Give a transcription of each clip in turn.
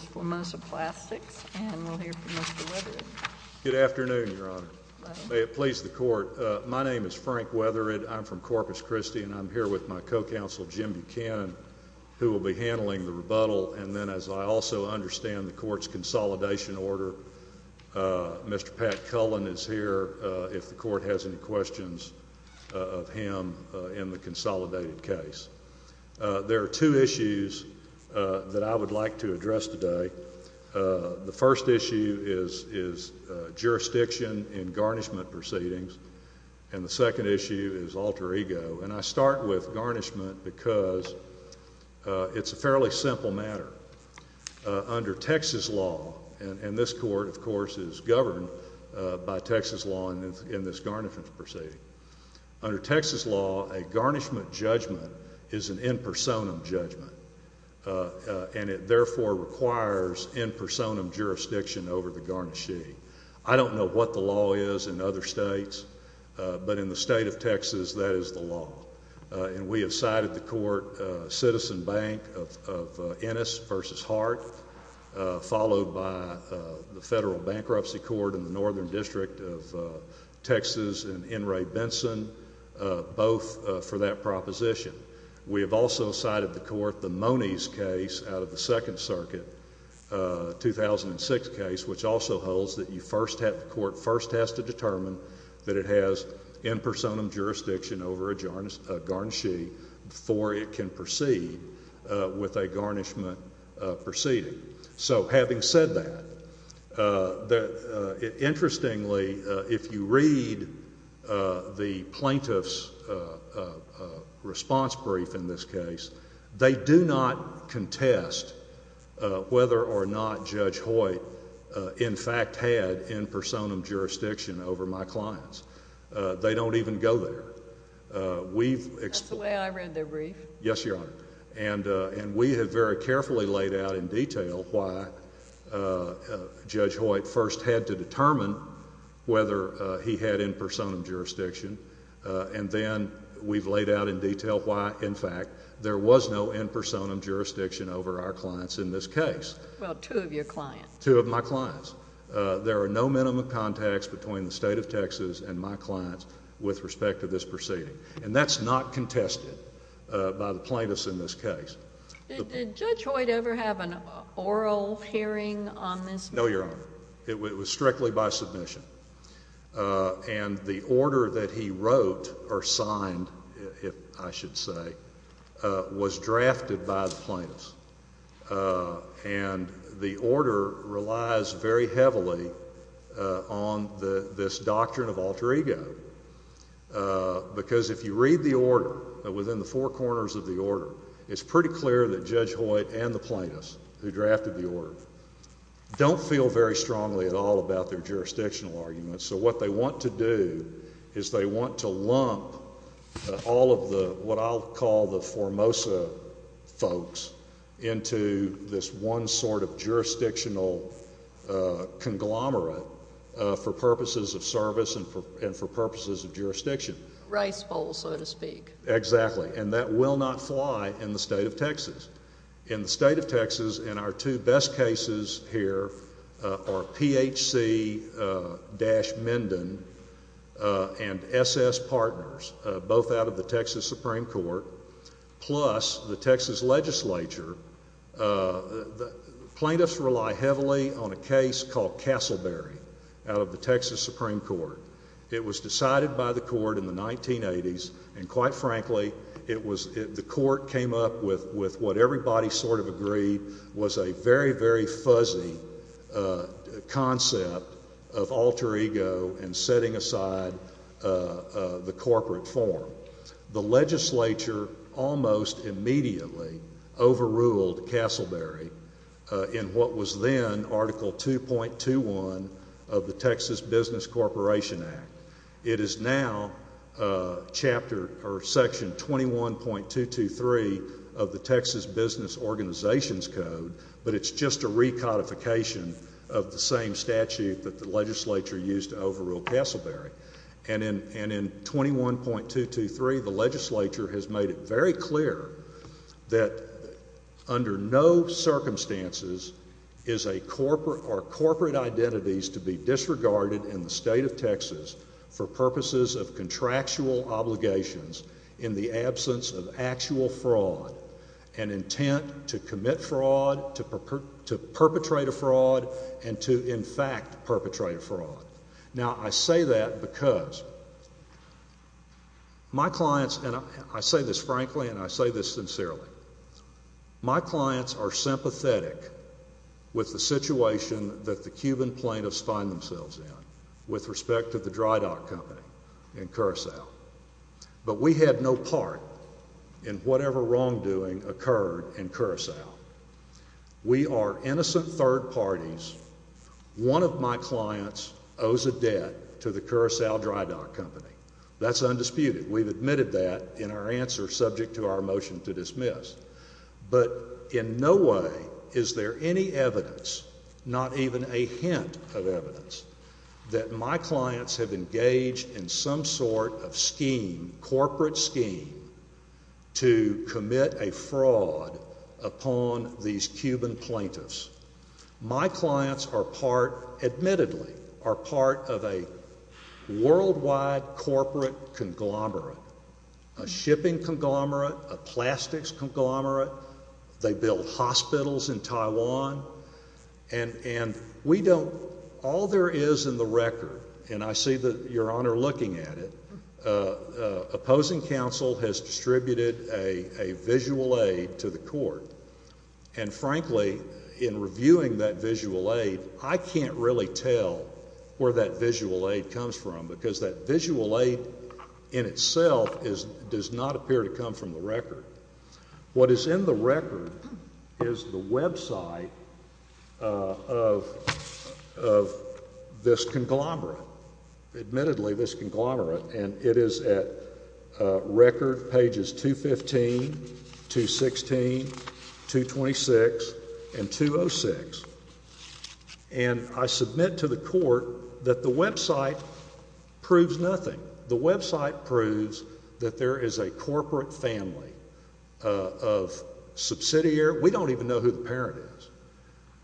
am here with my co-counsel Jim Buchanan, who will be handling the rebuttal, and then as I also understand the court's consolidation order, Mr. Pat Cullen is here if the court has any questions of him in the consolidated case. There are two issues that I would like to address today. The first issue is jurisdiction in garnishment proceedings, and the second issue is alter ego, and I start with garnishment because it's a fairly simple matter. Under Texas law, and this court, of course, is governed by Texas law in this garnishment proceeding. Under Texas law, a garnishment judgment is an in personam judgment, and it therefore requires in personam jurisdiction over the garnishee. I don't know what the law is in other states, but in the state of Texas, that is the law. We have cited the court, Citizen Bank of Ennis v. Hart, followed by the Federal Bankruptcy Court in the Northern District of Texas and N. Ray Benson, both for that proposition. We have also cited the court, the Monies case out of the Second Circuit, 2006 case, which also holds that the court first has to determine that it has in personam jurisdiction over a garnishee before it can proceed with a garnishment proceeding. So having said that, interestingly, if you read the plaintiff's response brief in this case, they do not contest whether or not Judge Hoyt in fact had in personam jurisdiction over my clients. They don't even go there. We've explained... That's the way I read their brief. Yes, Your Honor. And we have very carefully laid out in detail why Judge Hoyt first had to determine whether he had in personam jurisdiction, and then we've laid out in detail why, in fact, there was no in personam jurisdiction over our clients in this case. Well, two of your clients. Two of my clients. There are no minimum contacts between the state of Texas and my clients with respect to this proceeding. And that's not contested by the plaintiffs in this case. Did Judge Hoyt ever have an oral hearing on this? No, Your Honor. It was strictly by submission. And the order that he wrote or signed, I should say, was drafted by the plaintiffs. And the order relies very heavily on this doctrine of alter ego, because if you read the order, within the four corners of the order, it's pretty clear that Judge Hoyt and the plaintiffs who drafted the order don't feel very strongly at all about their jurisdictional arguments. So what they want to do is they want to lump all of what I'll call the Formosa folks into this one sort of jurisdictional conglomerate for purposes of service and for purposes of jurisdiction. Rice bowl, so to speak. Exactly. And that will not fly in the state of Texas. In the state of Texas, and our two best cases here are PHC-Mendon and SS Partners, both out of the Texas Supreme Court, plus the Texas legislature. Plaintiffs rely heavily on a case called Castleberry out of the Texas Supreme Court. It was decided by the court in the 1980s, and quite frankly, the court came up with what everybody sort of agreed was a very, very fuzzy concept of alter ego and setting aside the corporate form. The legislature almost immediately overruled Castleberry in what was then Article 2.21 of the Texas Business Corporation Act. It is now Section 21.223 of the Texas Business Organizations Code, but it's just a recodification of the same statute that the legislature used to overrule Castleberry. And in 21.223, the legislature has made it very clear that under no circumstances are for purposes of contractual obligations, in the absence of actual fraud, an intent to commit fraud, to perpetrate a fraud, and to, in fact, perpetrate a fraud. Now I say that because my clients, and I say this frankly and I say this sincerely, my clients are sympathetic with the situation that the Cuban plaintiffs find themselves in with respect to the Dry Dock Company in Curacao. But we had no part in whatever wrongdoing occurred in Curacao. We are innocent third parties. One of my clients owes a debt to the Curacao Dry Dock Company. That's undisputed. We've admitted that in our answer subject to our motion to dismiss. But in no way is there any evidence, not even a hint of evidence, that my clients have engaged in some sort of scheme, corporate scheme, to commit a fraud upon these Cuban plaintiffs. My clients are part, admittedly, are part of a worldwide corporate conglomerate, a shipping conglomerate, a plastics conglomerate. They build hospitals in Taiwan. And we don't, all there is in the record, and I see that Your Honor looking at it, opposing counsel has distributed a visual aid to the court. And frankly, in reviewing that visual aid, I can't really tell where that visual aid comes from because that visual aid in itself does not appear to come from the record. What is in the record is the website of this conglomerate, admittedly this conglomerate. And it is at record pages 215, 216, 226, and 206. And I submit to the court that the website proves nothing. The website proves that there is a corporate family of subsidiary. We don't even know who the parent is.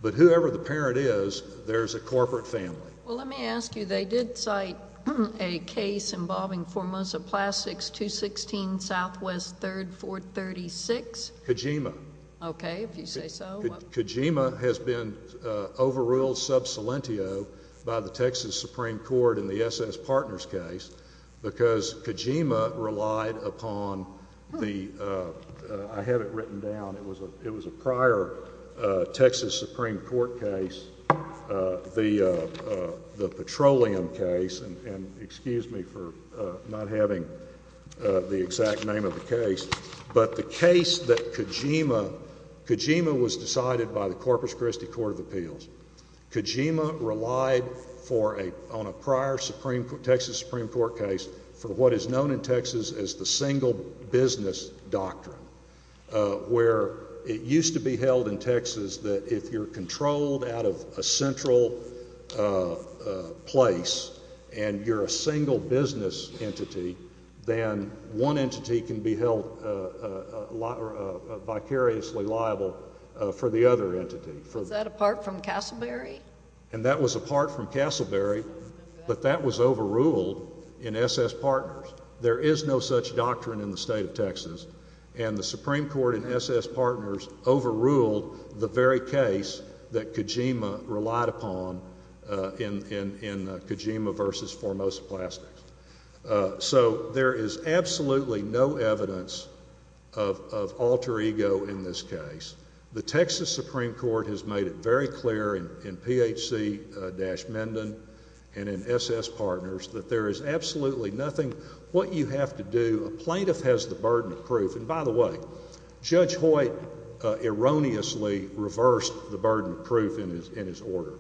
But whoever the parent is, there is a corporate family. Well, let me ask you. They did cite a case involving Formosa Plastics 216 Southwest 3rd, 436? Kojima. Okay. If you say so. Kojima. Kojima. Kojima has been overruled sub salientio by the Texas Supreme Court in the SS Partners case because Kojima relied upon the, I have it written down, it was a prior Texas Supreme Court case, the petroleum case, and excuse me for not having the exact name of the case, but the case that Kojima, Kojima was decided by the Corpus Christi Court of Appeals. Kojima relied for a, on a prior Texas Supreme Court case for what is known in Texas as the single business doctrine, where it used to be held in Texas that if you're controlled out of a central place and you're a single business entity, then one entity can be held vicariously liable for the other entity. Was that apart from Castleberry? And that was apart from Castleberry, but that was overruled in SS Partners. There is no such doctrine in the state of Texas, and the Supreme Court in SS Partners overruled the very case that Kojima relied upon in Kojima versus Formosa Plastics. So, there is absolutely no evidence of alter ego in this case. The Texas Supreme Court has made it very clear in PHC-Mendon and in SS Partners that there is absolutely nothing, what you have to do, a plaintiff has the burden of proof, and by the way, Judge Hoyt erroneously reversed the burden of proof in his order.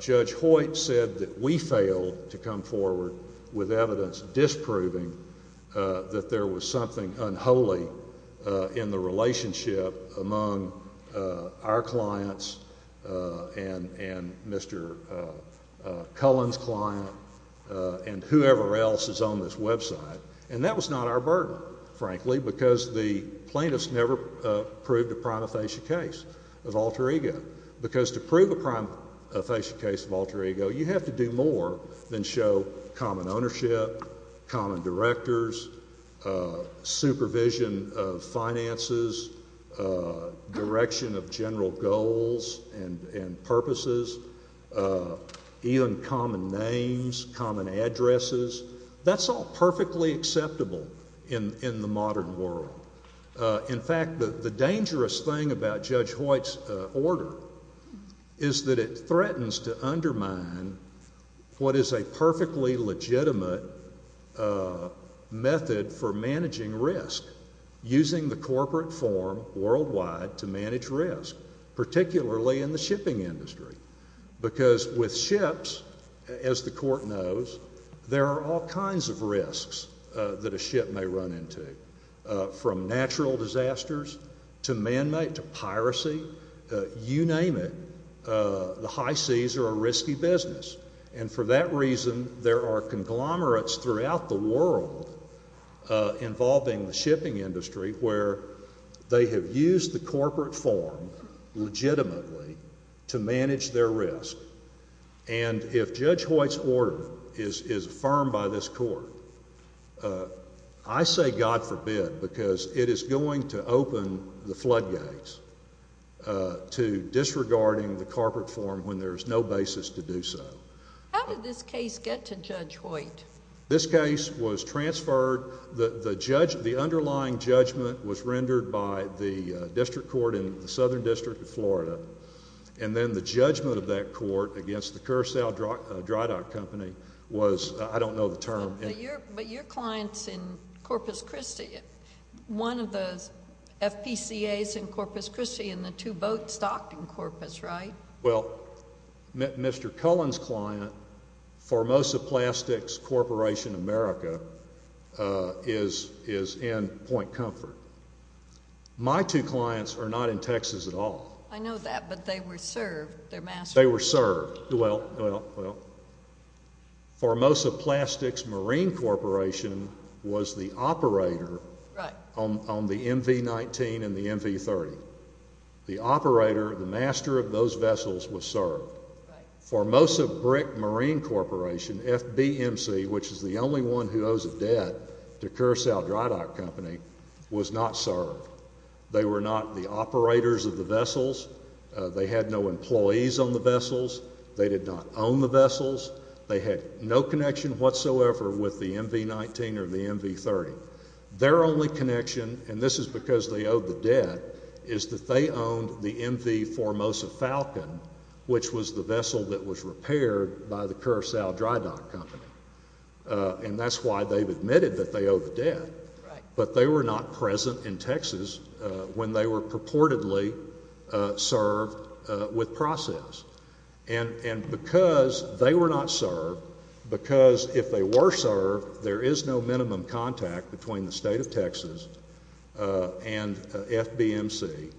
Judge Hoyt said that we failed to come forward with evidence disproving that there was something unholy in the relationship among our clients and Mr. Cullen's client and whoever else is on this website, and that was not our burden, frankly, because the plaintiffs never proved a prima facie case of alter ego. Because to prove a prima facie case of alter ego you have to do more than show common ownership, common directors, supervision of finances, direction of general goals and purposes, even common names, common addresses. That's all perfectly acceptable in the modern world. In fact, the dangerous thing about Judge Hoyt's order is that it threatens to undermine what is a perfectly legitimate method for managing risk, using the corporate form worldwide to manage risk, particularly in the shipping industry, because with ships, as the court has shown, from natural disasters to man-made to piracy, you name it, the high seas are a risky business, and for that reason there are conglomerates throughout the world involving the shipping industry where they have used the corporate form legitimately to manage their risk, and if Judge Hoyt's order is affirmed by this court, I say, God forbid, because it is going to open the floodgates to disregarding the corporate form when there is no basis to do so. How did this case get to Judge Hoyt? This case was transferred. The underlying judgment was rendered by the district court in the Southern District of Florida, and then the judgment of that court against the Curacao Dry Dock Company was, I don't know the term. But your client is in Corpus Christi, one of the FPCAs in Corpus Christi, and the two boats docked in Corpus, right? Well, Mr. Cullen's client, Formosa Plastics Corporation America, is in Point Comfort. My two clients are not in Texas at all. I know that, but they were served. They were served. Well, Formosa Plastics Marine Corporation was the operator on the MV-19 and the MV-30. The operator, the master of those vessels, was served. Formosa Brick Marine Corporation, FBMC, which is the only one who owes a debt to Curacao Dry Dock Company, was not served. They were not the operators of the vessels. They had no employees on the vessels. They did not own the vessels. They had no connection whatsoever with the MV-19 or the MV-30. Their only connection, and this is because they owed the debt, is that they owned the MV Formosa Falcon, which was the vessel that was repaired by the Curacao Dry Dock Company. And that's why they've admitted that they owe the debt, but they were not present in Texas when they were purportedly served with process. And because they were not served, because if they were served, there is no minimum contact between the State of Texas and FBMC,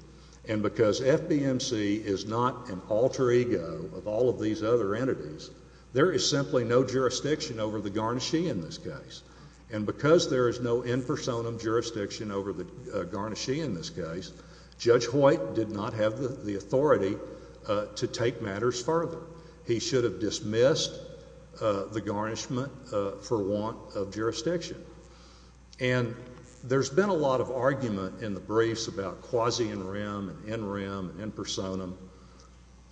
and because FBMC is not an alter ego of all of these other entities, there is simply no jurisdiction over the garnishee in this case. And because there is no in personam jurisdiction over the garnishee in this case, Judge Hoyt did not have the authority to take matters further. He should have dismissed the garnishment for want of jurisdiction. And there's been a lot of argument in the briefs about quasi-in rem, in rem, in personam,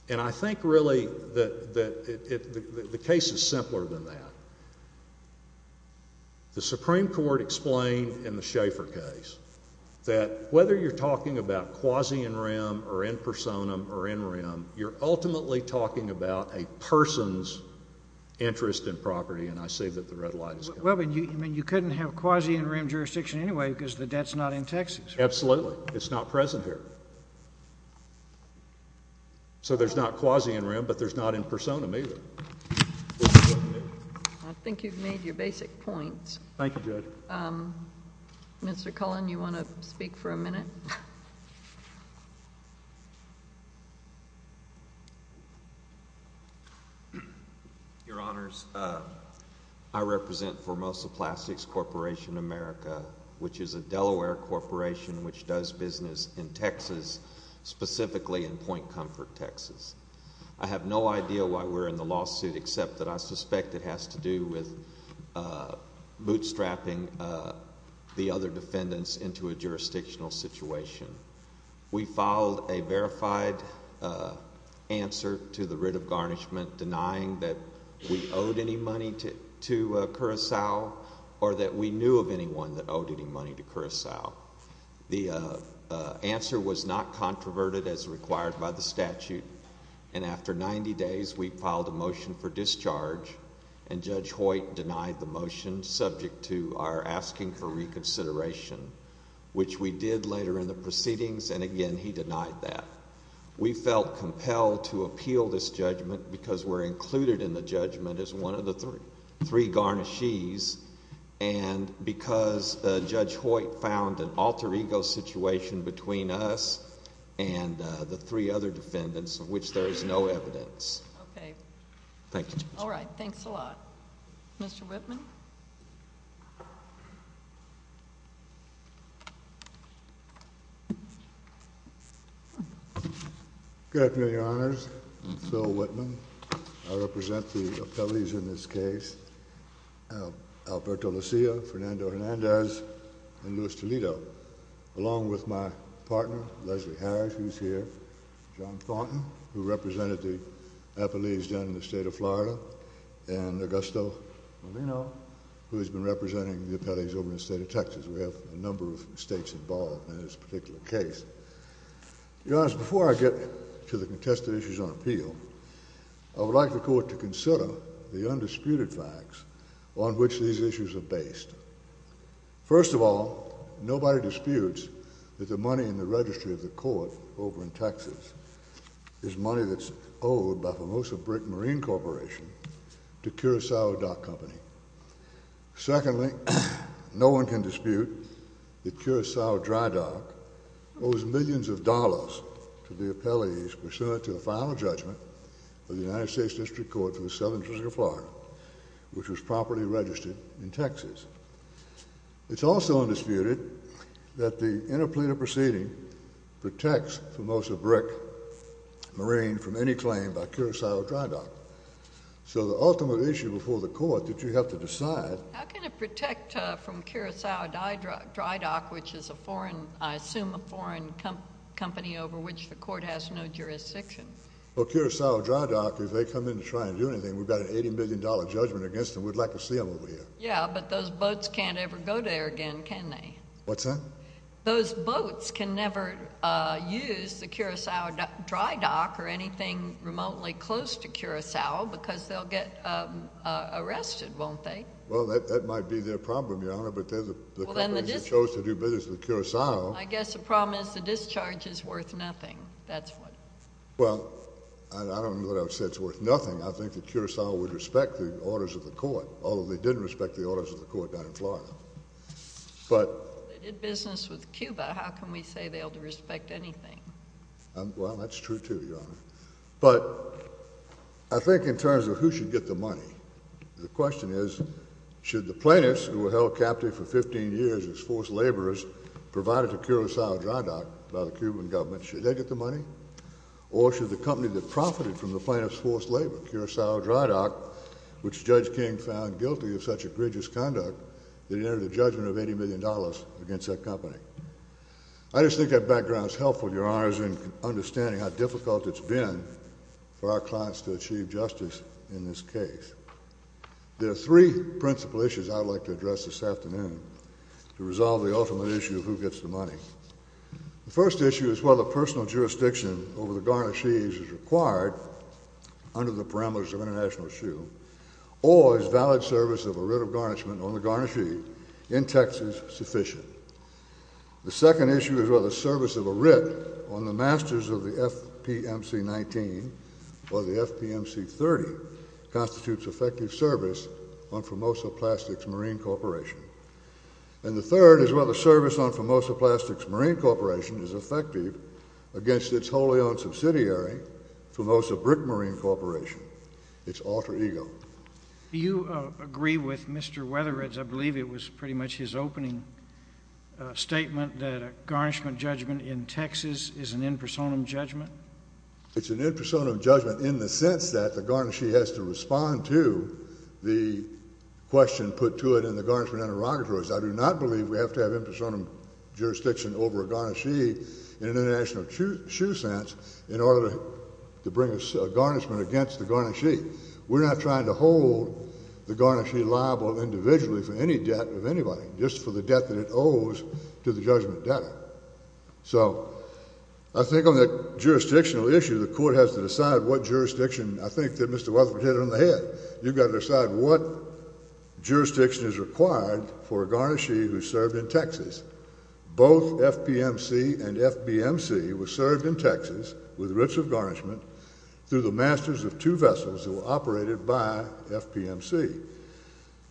and I think really that the case is simpler than that. The Supreme Court explained in the Schaeffer case that whether you're talking about quasi-in rem or in personam or in rem, you're ultimately talking about a person's interest in property, and I see that the red light is coming. Well, but you couldn't have quasi-in rem jurisdiction anyway because the State of Texas. Absolutely. It's not present here. So there's not quasi-in rem, but there's not in personam either. I think you've made your basic points. Thank you, Judge. Mr. Cullen, you want to speak for a minute? Your Honors, I represent Formosa Plastics Corporation America, which is a Delaware corporation which does business in Texas, specifically in Point Comfort, Texas. I have no idea why we're in the lawsuit except that I suspect it has to do with bootstrapping the other defendants into a jurisdictional situation. We filed a verified answer to the writ of garnishment denying that we owed any money to Curacao or that we knew of anyone that owed any money to Curacao. The answer was not controverted as required by the statute, and after 90 days, we filed a motion for discharge, and Judge Hoyt denied the motion subject to our asking for reconsideration, which we did later in the proceedings, and again, he denied that. We felt compelled to appeal this judgment because we're included in the judgment as one of the three garnishees, and because Judge Hoyt found an alter ego situation between us and the three other defendants, of which there is no evidence. Okay. Thank you, Judge. All right. Thanks a lot. Mr. Whitman? Good afternoon, Your Honors. I'm Phil Whitman. I represent the appellees in this case, Alberto Lucia, Fernando Hernandez, and Luis Toledo, along with my partner, Leslie Harris, who's here, John Thornton, who represented the appellees down in the state of Florida, and Augusto Molino, who has been representing the appellees over in the state of Texas. We have a number of states involved in this particular case. Your Honors, before I get to the contested issues on appeal, I would like the Court to consider the undisputed facts on which these issues are based. First of all, nobody disputes that the money in the registry of the Court over in Texas is money that's owed by Formosa Brick Marine Corporation to Curacao Dock Company. Secondly, no one can dispute that Curacao Dry Dock owes millions of dollars to the appellees pursuant to the final judgment of the United States District Court for the Southern District of Florida, which was properly registered in Texas. It's also undisputed that the interpleater proceeding protects Formosa Brick Marine from any claim by Curacao Dry Dock. So the ultimate issue before the Court that you have to decide is whether or not the appellee is a member of the U.S. District Court, and whether or not the appellee is a member of the U.S. District Court. How can it protect from Curacao Dry Dock, which is a foreign, I assume, a foreign company over which the Court has no jurisdiction? Well, Curacao Dry Dock, if they come in to try and do anything, we've got an $80 million judgment against them. We'd like to see them over here. Yeah, but those boats can't ever go there again, can they? What's that? Those boats can never use the Curacao Dry Dock or anything remotely close to Curacao because they'll get arrested, won't they? Well, that might be their problem, Your Honor, but they're the company that chose to do business with Curacao. I guess the problem is the discharge is worth nothing, that's what. Well, I don't know that I would say it's worth nothing. I think that Curacao would respect the orders of the Court, although they didn't respect the orders of the Court down in Florida. They did business with Cuba. How can we say they'll respect anything? Well, that's true, too, Your Honor. But I think in terms of who should get the money, the question is, should the plaintiffs who were held captive for 15 years as forced laborers, provided to Curacao Dry Dock by the Cuban government, should they get the money? Or should the company that profited from the plaintiffs' forced labor, Curacao Dry Dock, which Judge King found guilty of such egregious conduct, that it entered a judgment of $80 million against that company? I just think that background is helpful, Your Honors, in understanding how difficult it's been for our clients to achieve justice in this case. There are three principal issues I'd like to address this afternoon to resolve the ultimate issue of who gets the money. The first issue is whether personal jurisdiction over the garnished sheaves is required under the parameters of international shoe, or is valid service of a writ of garnishment on The second issue is whether service of a writ on the masters of the FPMC 19 or the FPMC 30 constitutes effective service on Formosa Plastics Marine Corporation. And the third is whether service on Formosa Plastics Marine Corporation is effective against its wholly owned subsidiary, Formosa Brick Marine Corporation, its alter ego. Do you agree with Mr. Weatheridge? I believe it was pretty much his opening statement that a garnishment judgment in Texas is an in personam judgment. It's an in personam judgment in the sense that the garnishee has to respond to the question put to it in the garnishment interrogatories. I do not believe we have to have in personam jurisdiction over a garnishee in an international shoe sense in order to bring a garnishment against the garnishee. We're not trying to hold the garnishee liable individually for any debt of anybody, just for the debt that it owes to the judgment debtor. So I think on that jurisdictional issue, the court has to decide what jurisdiction I think that Mr. Weatheridge hit on the head. You've got to decide what jurisdiction is required for a garnishee who served in Texas. Both FPMC and FBMC were served in Texas with writs of garnishment through the masters of two vessels that were operated by FPMC.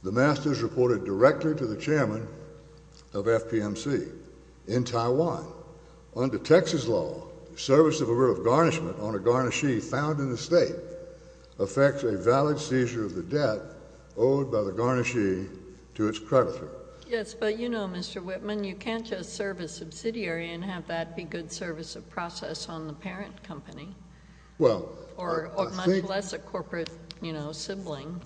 The masters reported directly to the chairman of FPMC. In Taiwan, under Texas law, service of a writ of garnishment on a garnishee found in a state affects a valid seizure of the debt owed by the garnishee to its creditor. Yes, but you know, Mr. Whitman, you can't just serve a subsidiary and have that be good service of process on the parent company. Well, I think... Or much less a corporate, you know, sibling.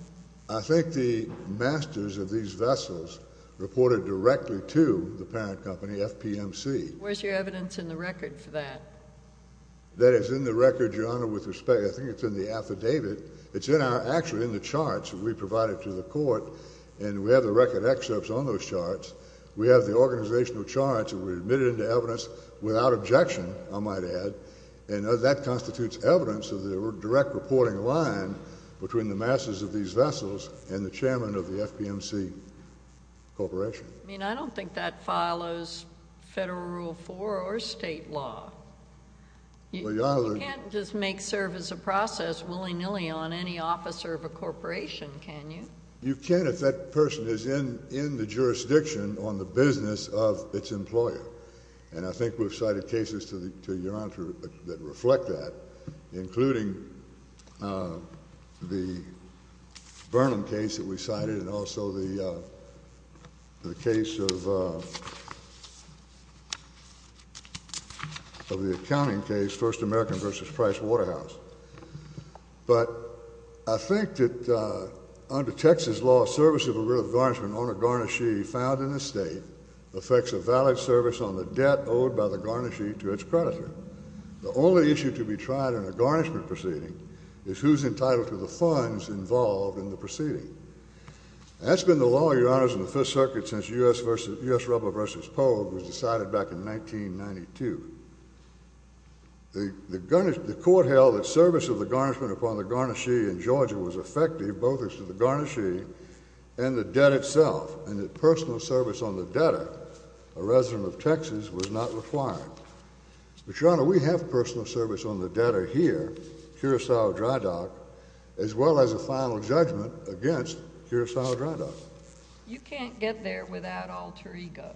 I think the masters of these vessels reported directly to the parent company, FPMC. Where's your evidence in the record for that? That is in the record, Your Honor, with respect. I think it's in the affidavit. It's in our, actually in the charts that we provided to the court, and we have the record excerpts on those charts. We have the organizational charts that were admitted into evidence without objection, I might add. And that constitutes evidence of the direct reporting line between the masters of these vessels and the chairman of the FPMC Corporation. I mean, I don't think that follows federal rule four or state law. Well, Your Honor... You can't just make service of process willy-nilly on any officer of a corporation, can you? You can if that person is in the jurisdiction on the business of its employer. And I think we've cited cases to Your Honor that reflect that, including the Burnham case that we cited and also the case of... of the accounting case, First American v. Price Waterhouse. But I think that under Texas law, service of a real garnishment, owner garnishee found in a state, affects a valid service on the debt owed by the garnishee to its creditor. The only issue to be tried in a garnishment proceeding is who's entitled to the funds involved in the proceeding. And that's been the law, Your Honors, in the Fifth Circuit since U.S. Rubber v. Pole was decided back in 1992. The court held that service of the garnishment upon the garnishee in Georgia was effective, and the debt itself and the personal service on the debtor, a resident of Texas, was not required. But, Your Honor, we have personal service on the debtor here, Curacao Dry Dock, as well as a final judgment against Curacao Dry Dock. You can't get there without alter ego.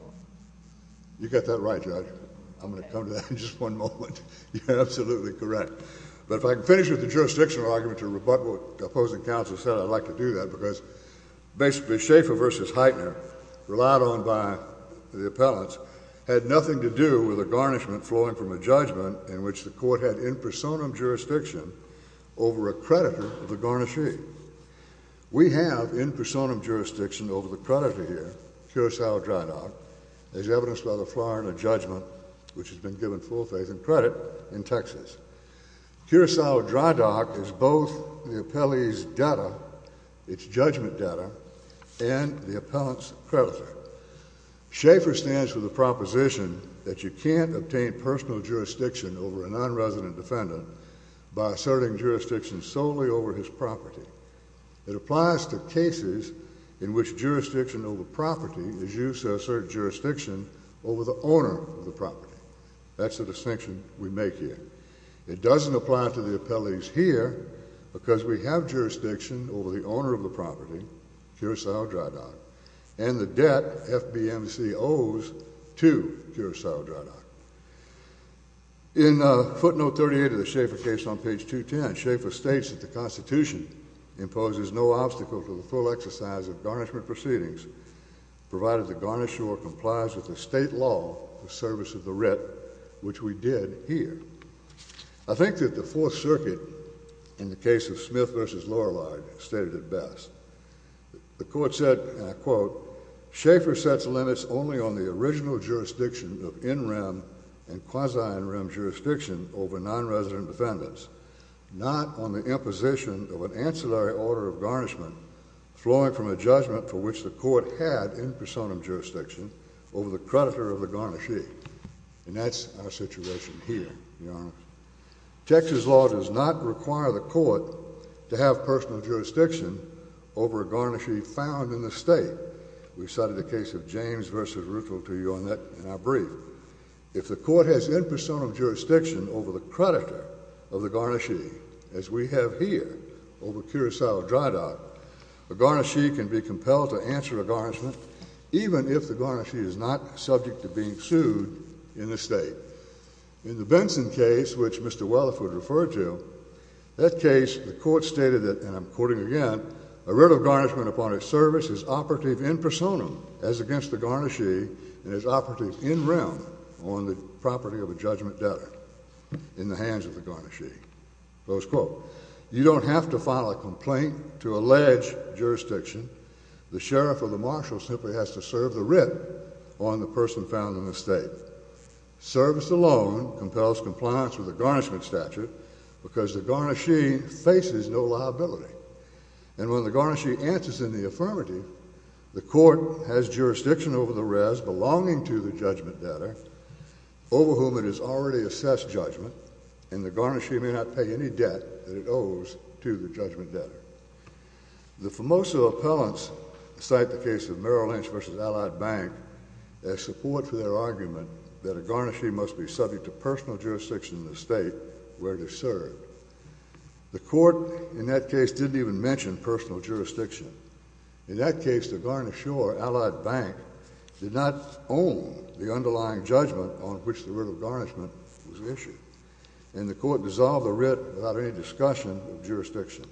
You got that right, Judge. I'm going to come to that in just one moment. You're absolutely correct. But if I can finish with the jurisdictional argument to rebut what the opposing counsel said, I'd like to do that because basically Schaefer v. Heitner, relied on by the appellants, had nothing to do with a garnishment flowing from a judgment in which the court had in personam jurisdiction over a creditor of the garnishee. We have in personam jurisdiction over the creditor here, Curacao Dry Dock, as evidenced by the Florida judgment, which has been given full faith and credit in Texas. Curacao Dry Dock is both the appellee's debtor, its judgment debtor, and the appellant's creditor. Schaefer stands for the proposition that you can't obtain personal jurisdiction over a nonresident defendant by asserting jurisdiction solely over his property. It applies to cases in which jurisdiction over property is used to assert jurisdiction over the owner of the property. That's the distinction we make here. It doesn't apply to the appellees here because we have jurisdiction over the owner of the property, Curacao Dry Dock, and the debt FBMC owes to Curacao Dry Dock. In footnote 38 of the Schaefer case on page 210, Schaefer states that the Constitution imposes no obstacle to the full exercise of garnishment proceedings, provided the garnisher complies with the state law in service of the writ, which we did here. I think that the Fourth Circuit, in the case of Smith v. Lorelei, stated it best. The court said, and I quote, Schaefer sets limits only on the original jurisdiction of in-rem and quasi-in-rem jurisdiction over nonresident defendants, not on the imposition of an ancillary order of garnishment flowing from a judgment for which the court had in personam jurisdiction over the creditor of the garnishee. Texas law does not require the court to have personal jurisdiction over a garnishee found in the state. We cited the case of James v. Ruthville to you on that in our brief. If the court has in-personam jurisdiction over the creditor of the garnishee, as we have here over Curacao Dry Dock, a garnishee can be compelled to answer a garnishment, even if the garnishee is not subject to being sued in the state. In the Benson case, which Mr. Welliford referred to, that case, the court stated that, and I'm quoting again, a writ of garnishment upon its service is operative in personam, as against the garnishee, and is operative in-rem on the property of a judgment debtor in the hands of the garnishee. Close quote. You don't have to file a complaint to allege jurisdiction. The sheriff or the marshal simply has to serve the writ on the person found in the state. Service alone compels compliance with the garnishment statute, because the garnishee faces no liability. And when the garnishee answers in the affirmative, the court has jurisdiction over the rest belonging to the judgment debtor, over whom it has already assessed judgment, and the garnishee may not pay any debt that it owes to the judgment debtor. The Formosa appellants cite the case of Merrill Lynch v. Allied Bank as support for their argument that a garnishee must be subject to personal jurisdiction in the state where they serve. The court in that case didn't even mention personal jurisdiction. In that case, the garnisheur, Allied Bank, did not own the underlying judgment on which the writ of garnishment was issued, and the court dissolved the writ without any discussion of jurisdiction.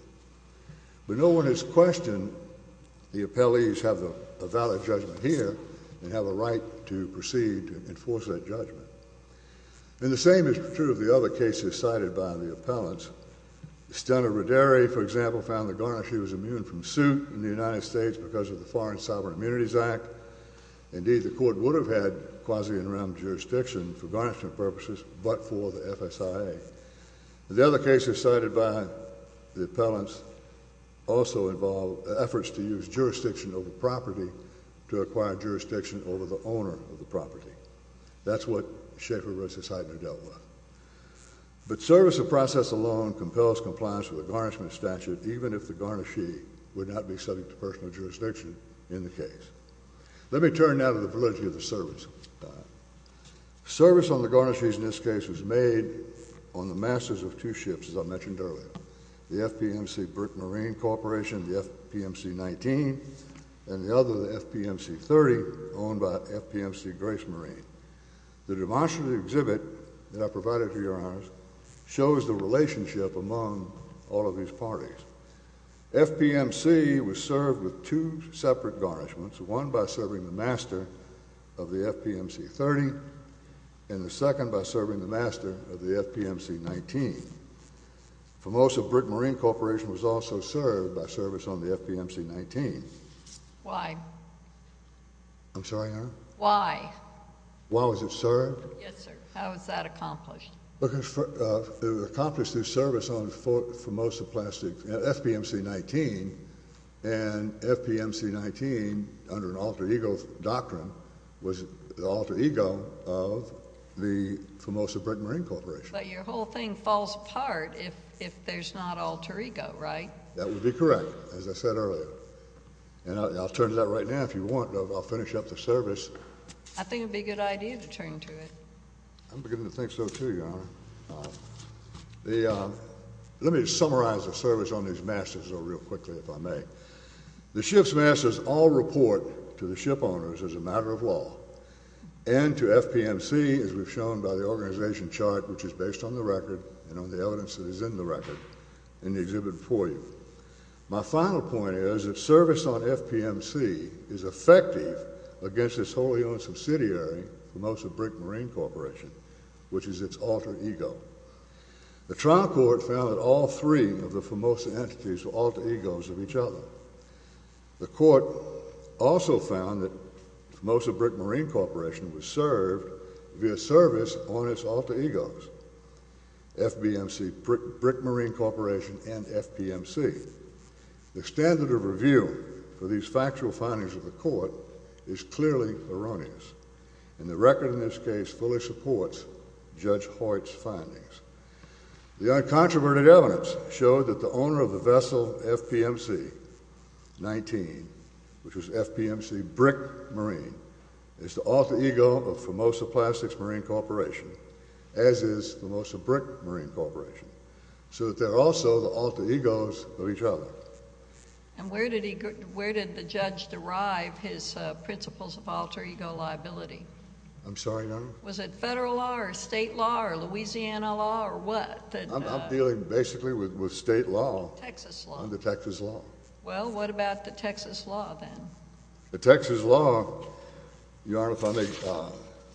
But no one has questioned the appellees have a valid judgment here and have a right to proceed to enforce that judgment. And the same is true of the other cases cited by the appellants. Estella Rodary, for example, found the garnishee was immune from suit in the United States because of the Foreign Sovereign Immunities Act. Indeed, the court would have had quasi-in-rem jurisdiction for garnishment purposes, but for the FSIA. The other cases cited by the appellants also involve efforts to use jurisdiction over property to acquire jurisdiction over the owner of the property. That's what Schaefer v. Heitner dealt with. But service of process alone compels compliance with a garnishment statute, even if the garnishee would not be subject to personal jurisdiction in the case. Let me turn now to the validity of the service. Service on the garnishees in this case was made on the masters of two ships, as I mentioned earlier, the FPMC Brick Marine Corporation, the FPMC-19, and the other, the FPMC-30, owned by FPMC Grace Marine. The demonstrative exhibit that I provided to your honors shows the relationship among all of these parties. FPMC was served with two separate garnishments, one by serving the master of the FPMC-30 and the second by serving the master of the FPMC-19. FOMOSA Brick Marine Corporation was also served by service on the FPMC-19. Why? I'm sorry, Your Honor? Why? Why was it served? Yes, sir. How was that accomplished? It was accomplished through service on FOMOSA plastic, FPMC-19, and FPMC-19, under an alter ego doctrine, was the alter ego of the FOMOSA Brick Marine Corporation. But your whole thing falls apart if there's not alter ego, right? That would be correct, as I said earlier. And I'll turn to that right now, if you want. I'll finish up the service. I think it would be a good idea to turn to it. I'm beginning to think so, too, Your Honor. Let me summarize the service on these masters, though, real quickly, if I may. The ship's masters all report to the ship owners as a matter of law, and to FPMC, as we've shown by the organization chart, which is based on the record and on the evidence that is in the record in the exhibit before you. My final point is that service on FPMC is effective against its wholly owned subsidiary, FOMOSA Brick Marine Corporation, which is its alter ego. The trial court found that all three of the FOMOSA entities were alter egos of each other. The court also found that FOMOSA Brick Marine Corporation was served via service on its alter egos, FBMC Brick Marine Corporation and FPMC. The standard of review for these factual findings of the court is clearly erroneous, and the record in this case fully supports Judge Hoyt's findings. The uncontroverted evidence showed that the owner of the vessel FPMC-19, which was FPMC Brick Marine, is the alter ego of FOMOSA Plastics Marine Corporation, as is FOMOSA Brick Marine Corporation, so that they're also the alter egos of each other. And where did the judge derive his principles of alter ego liability? I'm sorry, Your Honor? Was it federal law or state law or Louisiana law or what? I'm dealing basically with state law. Texas law. And the Texas law. Well, what about the Texas law then? The Texas law, Your Honor, if I may…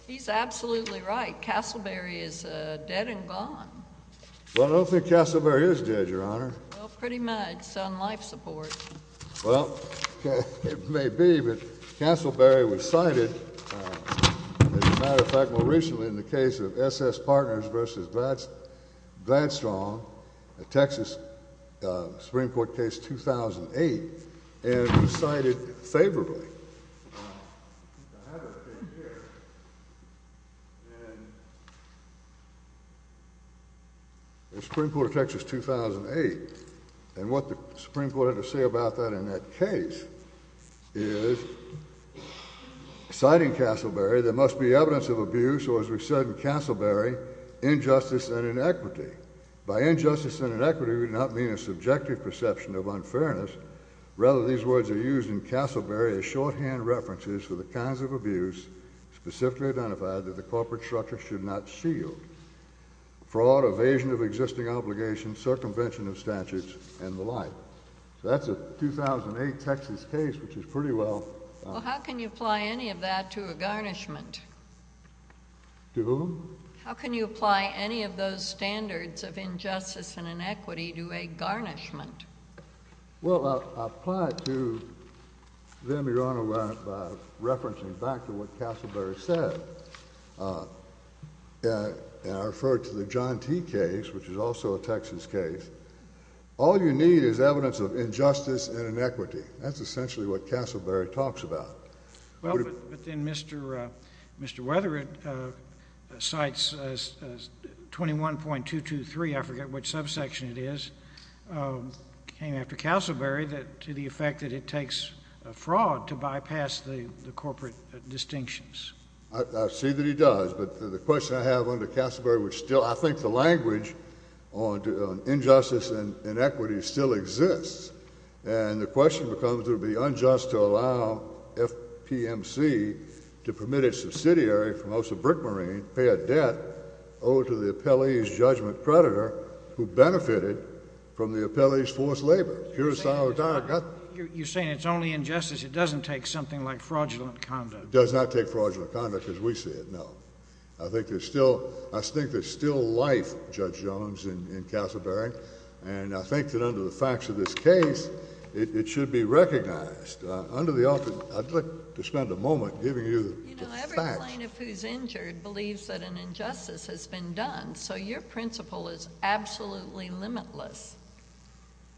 He's absolutely right. Castleberry is dead and gone. Well, I don't think Castleberry is dead, Your Honor. Well, pretty much. It's on life support. Well, it may be, but Castleberry was cited, as a matter of fact, more recently in the case of SS Partners v. Gladstone, a Texas Supreme Court case, 2008, and was cited favorably. I think I have it right here. In the Supreme Court of Texas, 2008, and what the Supreme Court had to say about that in that case is, citing Castleberry, there must be evidence of abuse, or as we said in Castleberry, injustice and inequity. By injustice and inequity, we do not mean a subjective perception of unfairness. Rather, these words are used in Castleberry as shorthand references for the kinds of abuse specifically identified that the corporate structure should not shield. Fraud, evasion of existing obligations, circumvention of statutes, and the like. So that's a 2008 Texas case, which is pretty well… Well, how can you apply any of that to a garnishment? To whom? How can you apply any of those standards of injustice and inequity to a garnishment? Well, I'll apply it to them, Your Honor, by referencing back to what Castleberry said. And I refer to the John T. case, which is also a Texas case. All you need is evidence of injustice and inequity. That's essentially what Castleberry talks about. Well, but then Mr. Weatheritt cites 21.223, I forget which subsection it is, came after Castleberry to the effect that it takes fraud to bypass the corporate distinctions. I see that he does. But the question I have under Castleberry, which still I think the language on injustice and inequity still exists. And the question becomes, would it be unjust to allow FPMC to permit its subsidiary, for most a brick marine, pay a debt owed to the appellee's judgment creditor who benefited from the appellee's forced labor? You're saying it's only injustice. It doesn't take something like fraudulent conduct. It does not take fraudulent conduct as we see it, no. I think there's still life, Judge Jones, in Castleberry. And I think that under the facts of this case, it should be recognized. Under the authority, I'd like to spend a moment giving you the facts. You know, every plaintiff who's injured believes that an injustice has been done. So your principle is absolutely limitless.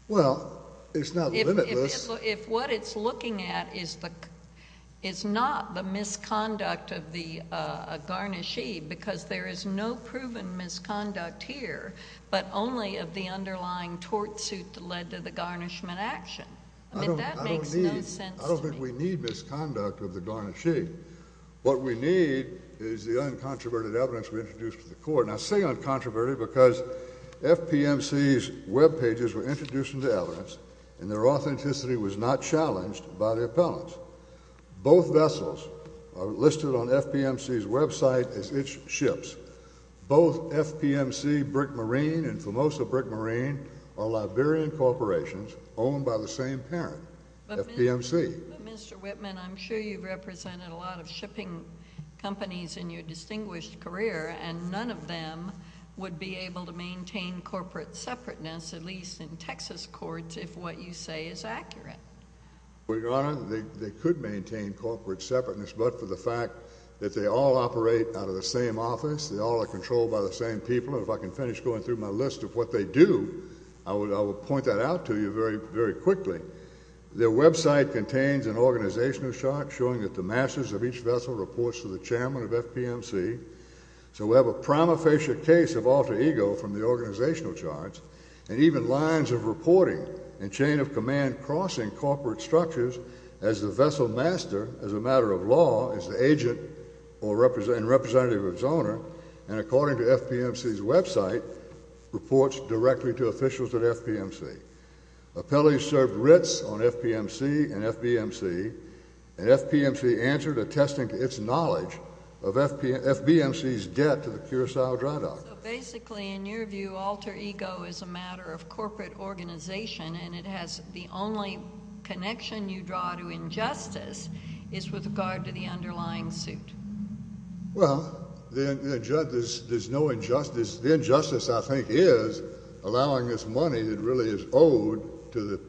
Well, it's not limitless. If what it's looking at is not the misconduct of the garnishee, because there is no proven misconduct here but only of the underlying tort suit that led to the garnishment action. I mean, that makes no sense to me. I don't think we need misconduct of the garnishee. What we need is the uncontroverted evidence we introduced to the court. Now, I say uncontroverted because FPMC's Web pages were introduced into evidence, and their authenticity was not challenged by the appellants. Both vessels are listed on FPMC's Web site as its ships. Both FPMC Brick Marine and Formosa Brick Marine are Liberian corporations owned by the same parent, FPMC. But, Mr. Whitman, I'm sure you've represented a lot of shipping companies in your distinguished career, and none of them would be able to maintain corporate separateness, at least in Texas courts, if what you say is accurate. Well, Your Honor, they could maintain corporate separateness, but for the fact that they all operate out of the same office, they all are controlled by the same people, and if I can finish going through my list of what they do, I will point that out to you very quickly. Their Web site contains an organizational chart showing that the masters of each vessel reports to the chairman of FPMC. So we have a prima facie case of alter ego from the organizational charts, and even lines of reporting and chain of command crossing corporate structures as the vessel master, as a matter of law, as the agent and representative of its owner, and according to FPMC's Web site, reports directly to officials at FPMC. Appellees served writs on FPMC and FBMC, and FPMC answered, attesting to its knowledge of FBMC's debt to the Curacao Dry Dock. So basically, in your view, alter ego is a matter of corporate organization, and it has the only connection you draw to injustice is with regard to the underlying suit. Well, there's no injustice. The injustice, I think, is allowing this money that really is owed to the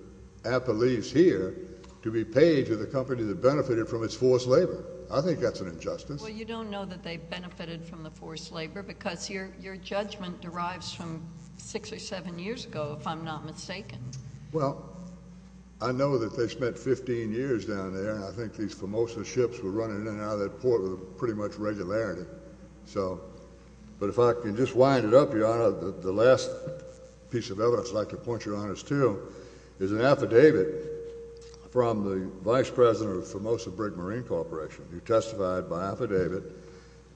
appellees here to be paid to the company that benefited from its forced labor. I think that's an injustice. Well, you don't know that they benefited from the forced labor because your judgment derives from six or seven years ago, if I'm not mistaken. Well, I know that they spent 15 years down there, and I think these FOMOSA ships were running in and out of that port with pretty much regularity. But if I can just wind it up, Your Honor, the last piece of evidence I'd like to point you on is too is an affidavit from the vice president of FOMOSA Brigg Marine Corporation who testified by affidavit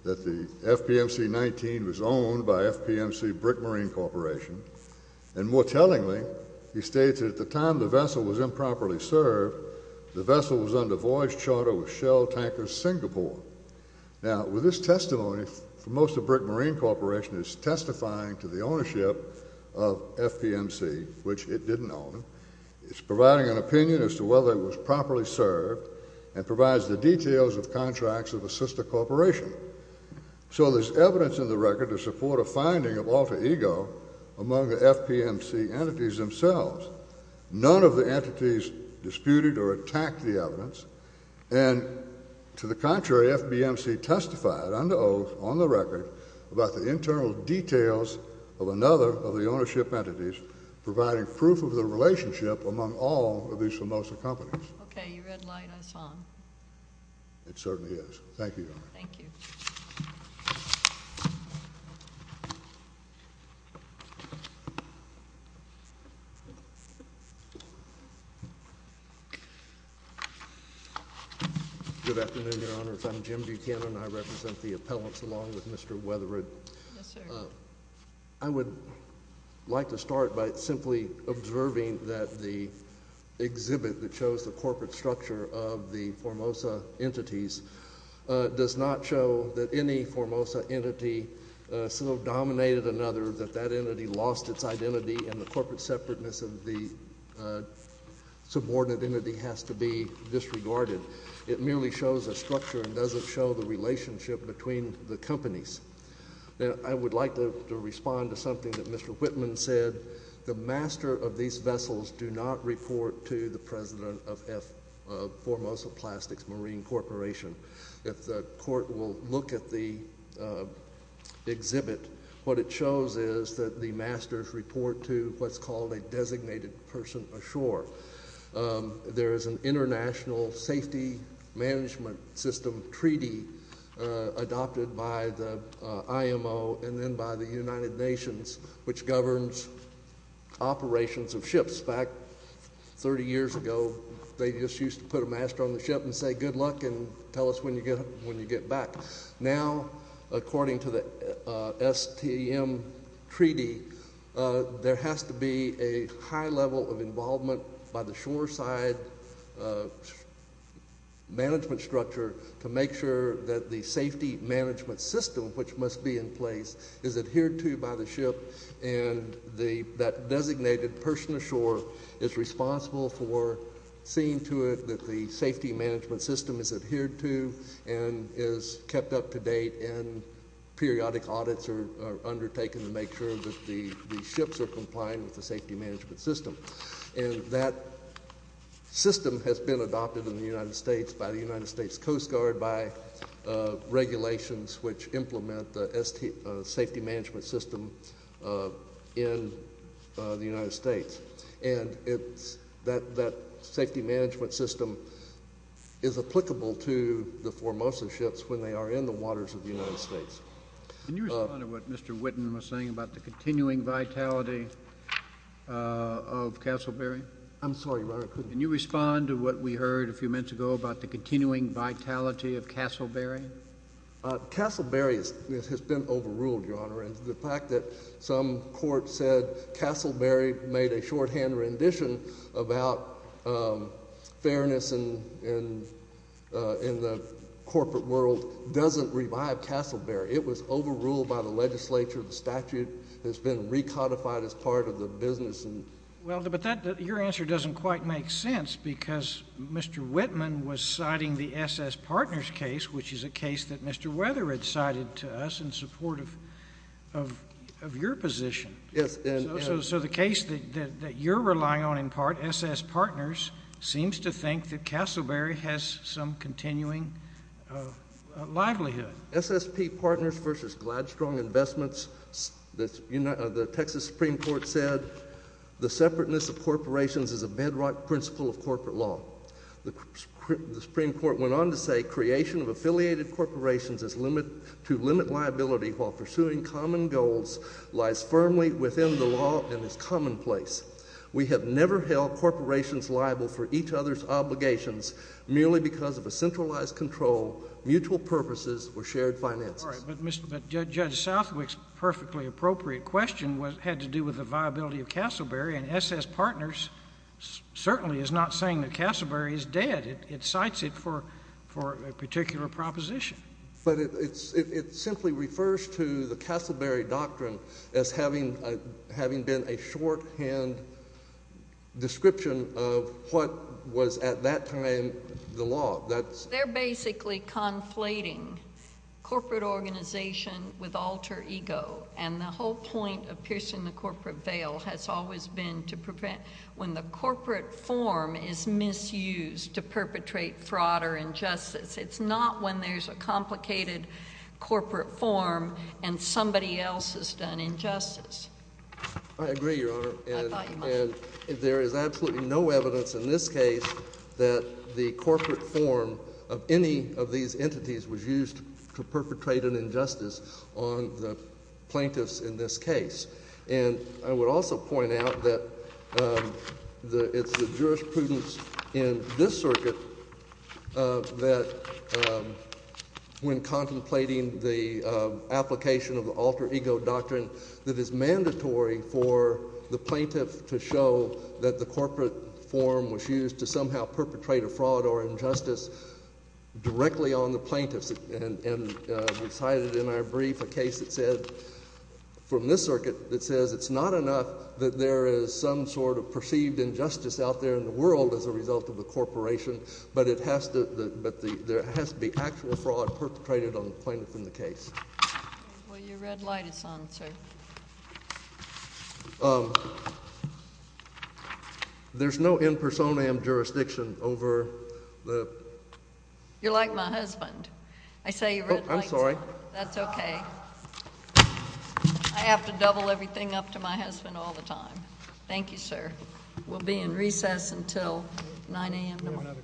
that the FPMC-19 was owned by FPMC Brigg Marine Corporation. And more tellingly, he stated at the time the vessel was improperly served, the vessel was under voyage charter with Shell Tankers Singapore. Now, with this testimony, FOMOSA Brigg Marine Corporation is testifying to the ownership of FPMC, which it didn't own. It's providing an opinion as to whether it was properly served and provides the details of contracts of a sister corporation. So there's evidence in the record to support a finding of alter ego among the FPMC entities themselves. None of the entities disputed or attacked the evidence, and to the contrary, FPMC testified under oath on the record about the internal details of another of the ownership entities providing proof of the relationship among all of these FOMOSA companies. Okay. You read light. I saw him. It certainly is. Thank you, Your Honor. Thank you. Good afternoon, Your Honor. If I'm Jim Buchanan, I represent the appellants along with Mr. Weatherid. Yes, sir. I would like to start by simply observing that the exhibit that shows the corporate structure of the FOMOSA entities does not show that any FOMOSA entity so dominated another that that entity lost its identity and the corporate separateness of the subordinate entity has to be disregarded. It merely shows a structure and doesn't show the relationship between the companies. Now, I would like to respond to something that Mr. Whitman said. The master of these vessels do not report to the president of FOMOSA Plastics Marine Corporation. If the court will look at the exhibit, what it shows is that the masters report to what's called a designated person ashore. There is an international safety management system treaty adopted by the IMO and then by the United Nations, which governs operations of ships. In fact, 30 years ago, they just used to put a master on the ship and say, good luck and tell us when you get back. Now, according to the STM treaty, there has to be a high level of involvement by the shoreside management structure to make sure that the safety management system, which must be in place, is adhered to by the ship and that designated person ashore is responsible for seeing to it that the safety management system is adhered to and is kept up to date and periodic audits are undertaken to make sure that the ships are complying with the safety management system. And that system has been adopted in the United States by the United States Coast Guard, by regulations which implement the safety management system in the United States. And that safety management system is applicable to the foremost of ships when they are in the waters of the United States. Can you respond to what Mr. Whitten was saying about the continuing vitality of Castleberry? I'm sorry, Your Honor. Can you respond to what we heard a few minutes ago about the continuing vitality of Castleberry? Castleberry has been overruled, Your Honor. The fact that some court said Castleberry made a shorthand rendition about fairness in the corporate world doesn't revive Castleberry. It was overruled by the legislature. The statute has been recodified as part of the business. Well, but your answer doesn't quite make sense because Mr. Whitman was citing the SS Partners case, which is a case that Mr. Weather had cited to us in support of your position. Yes. So the case that you're relying on in part, SS Partners, seems to think that Castleberry has some continuing livelihood. SSP Partners v. Gladstrong Investments, the Texas Supreme Court said the separateness of corporations is a bedrock principle of corporate law. The Supreme Court went on to say creation of affiliated corporations to limit liability while pursuing common goals lies firmly within the law and is commonplace. We have never held corporations liable for each other's obligations merely because of a centralized control, mutual purposes, or shared finances. All right. But Judge Southwick's perfectly appropriate question had to do with the viability of Castleberry. And SS Partners certainly is not saying that Castleberry is dead. It cites it for a particular proposition. But it simply refers to the Castleberry Doctrine as having been a shorthand description of what was at that time the law. They're basically conflating corporate organization with alter ego. And the whole point of piercing the corporate veil has always been to prevent when the corporate form is misused to perpetrate fraud or injustice. It's not when there's a complicated corporate form and somebody else has done injustice. I agree, Your Honor. I thought you might. And there is absolutely no evidence in this case that the corporate form of any of these entities was used to perpetrate an injustice on the plaintiffs in this case. And I would also point out that it's the jurisprudence in this circuit that when contemplating the application of the alter ego doctrine, that it's mandatory for the plaintiff to show that the corporate form was used to somehow perpetrate a fraud or injustice directly on the plaintiffs. And we cited in our brief a case that said, from this circuit, that says it's not enough that there is some sort of perceived injustice out there in the world as a result of the corporation, but it has to, but there has to be actual fraud perpetrated on the plaintiff in the case. Well, your red light is on, sir. There's no impersonam jurisdiction over the… You're like my husband. I say your red light is on. I'm sorry. That's okay. I have to double everything up to my husband all the time. Thank you, sir. We'll be in recess until 9 a.m. tomorrow.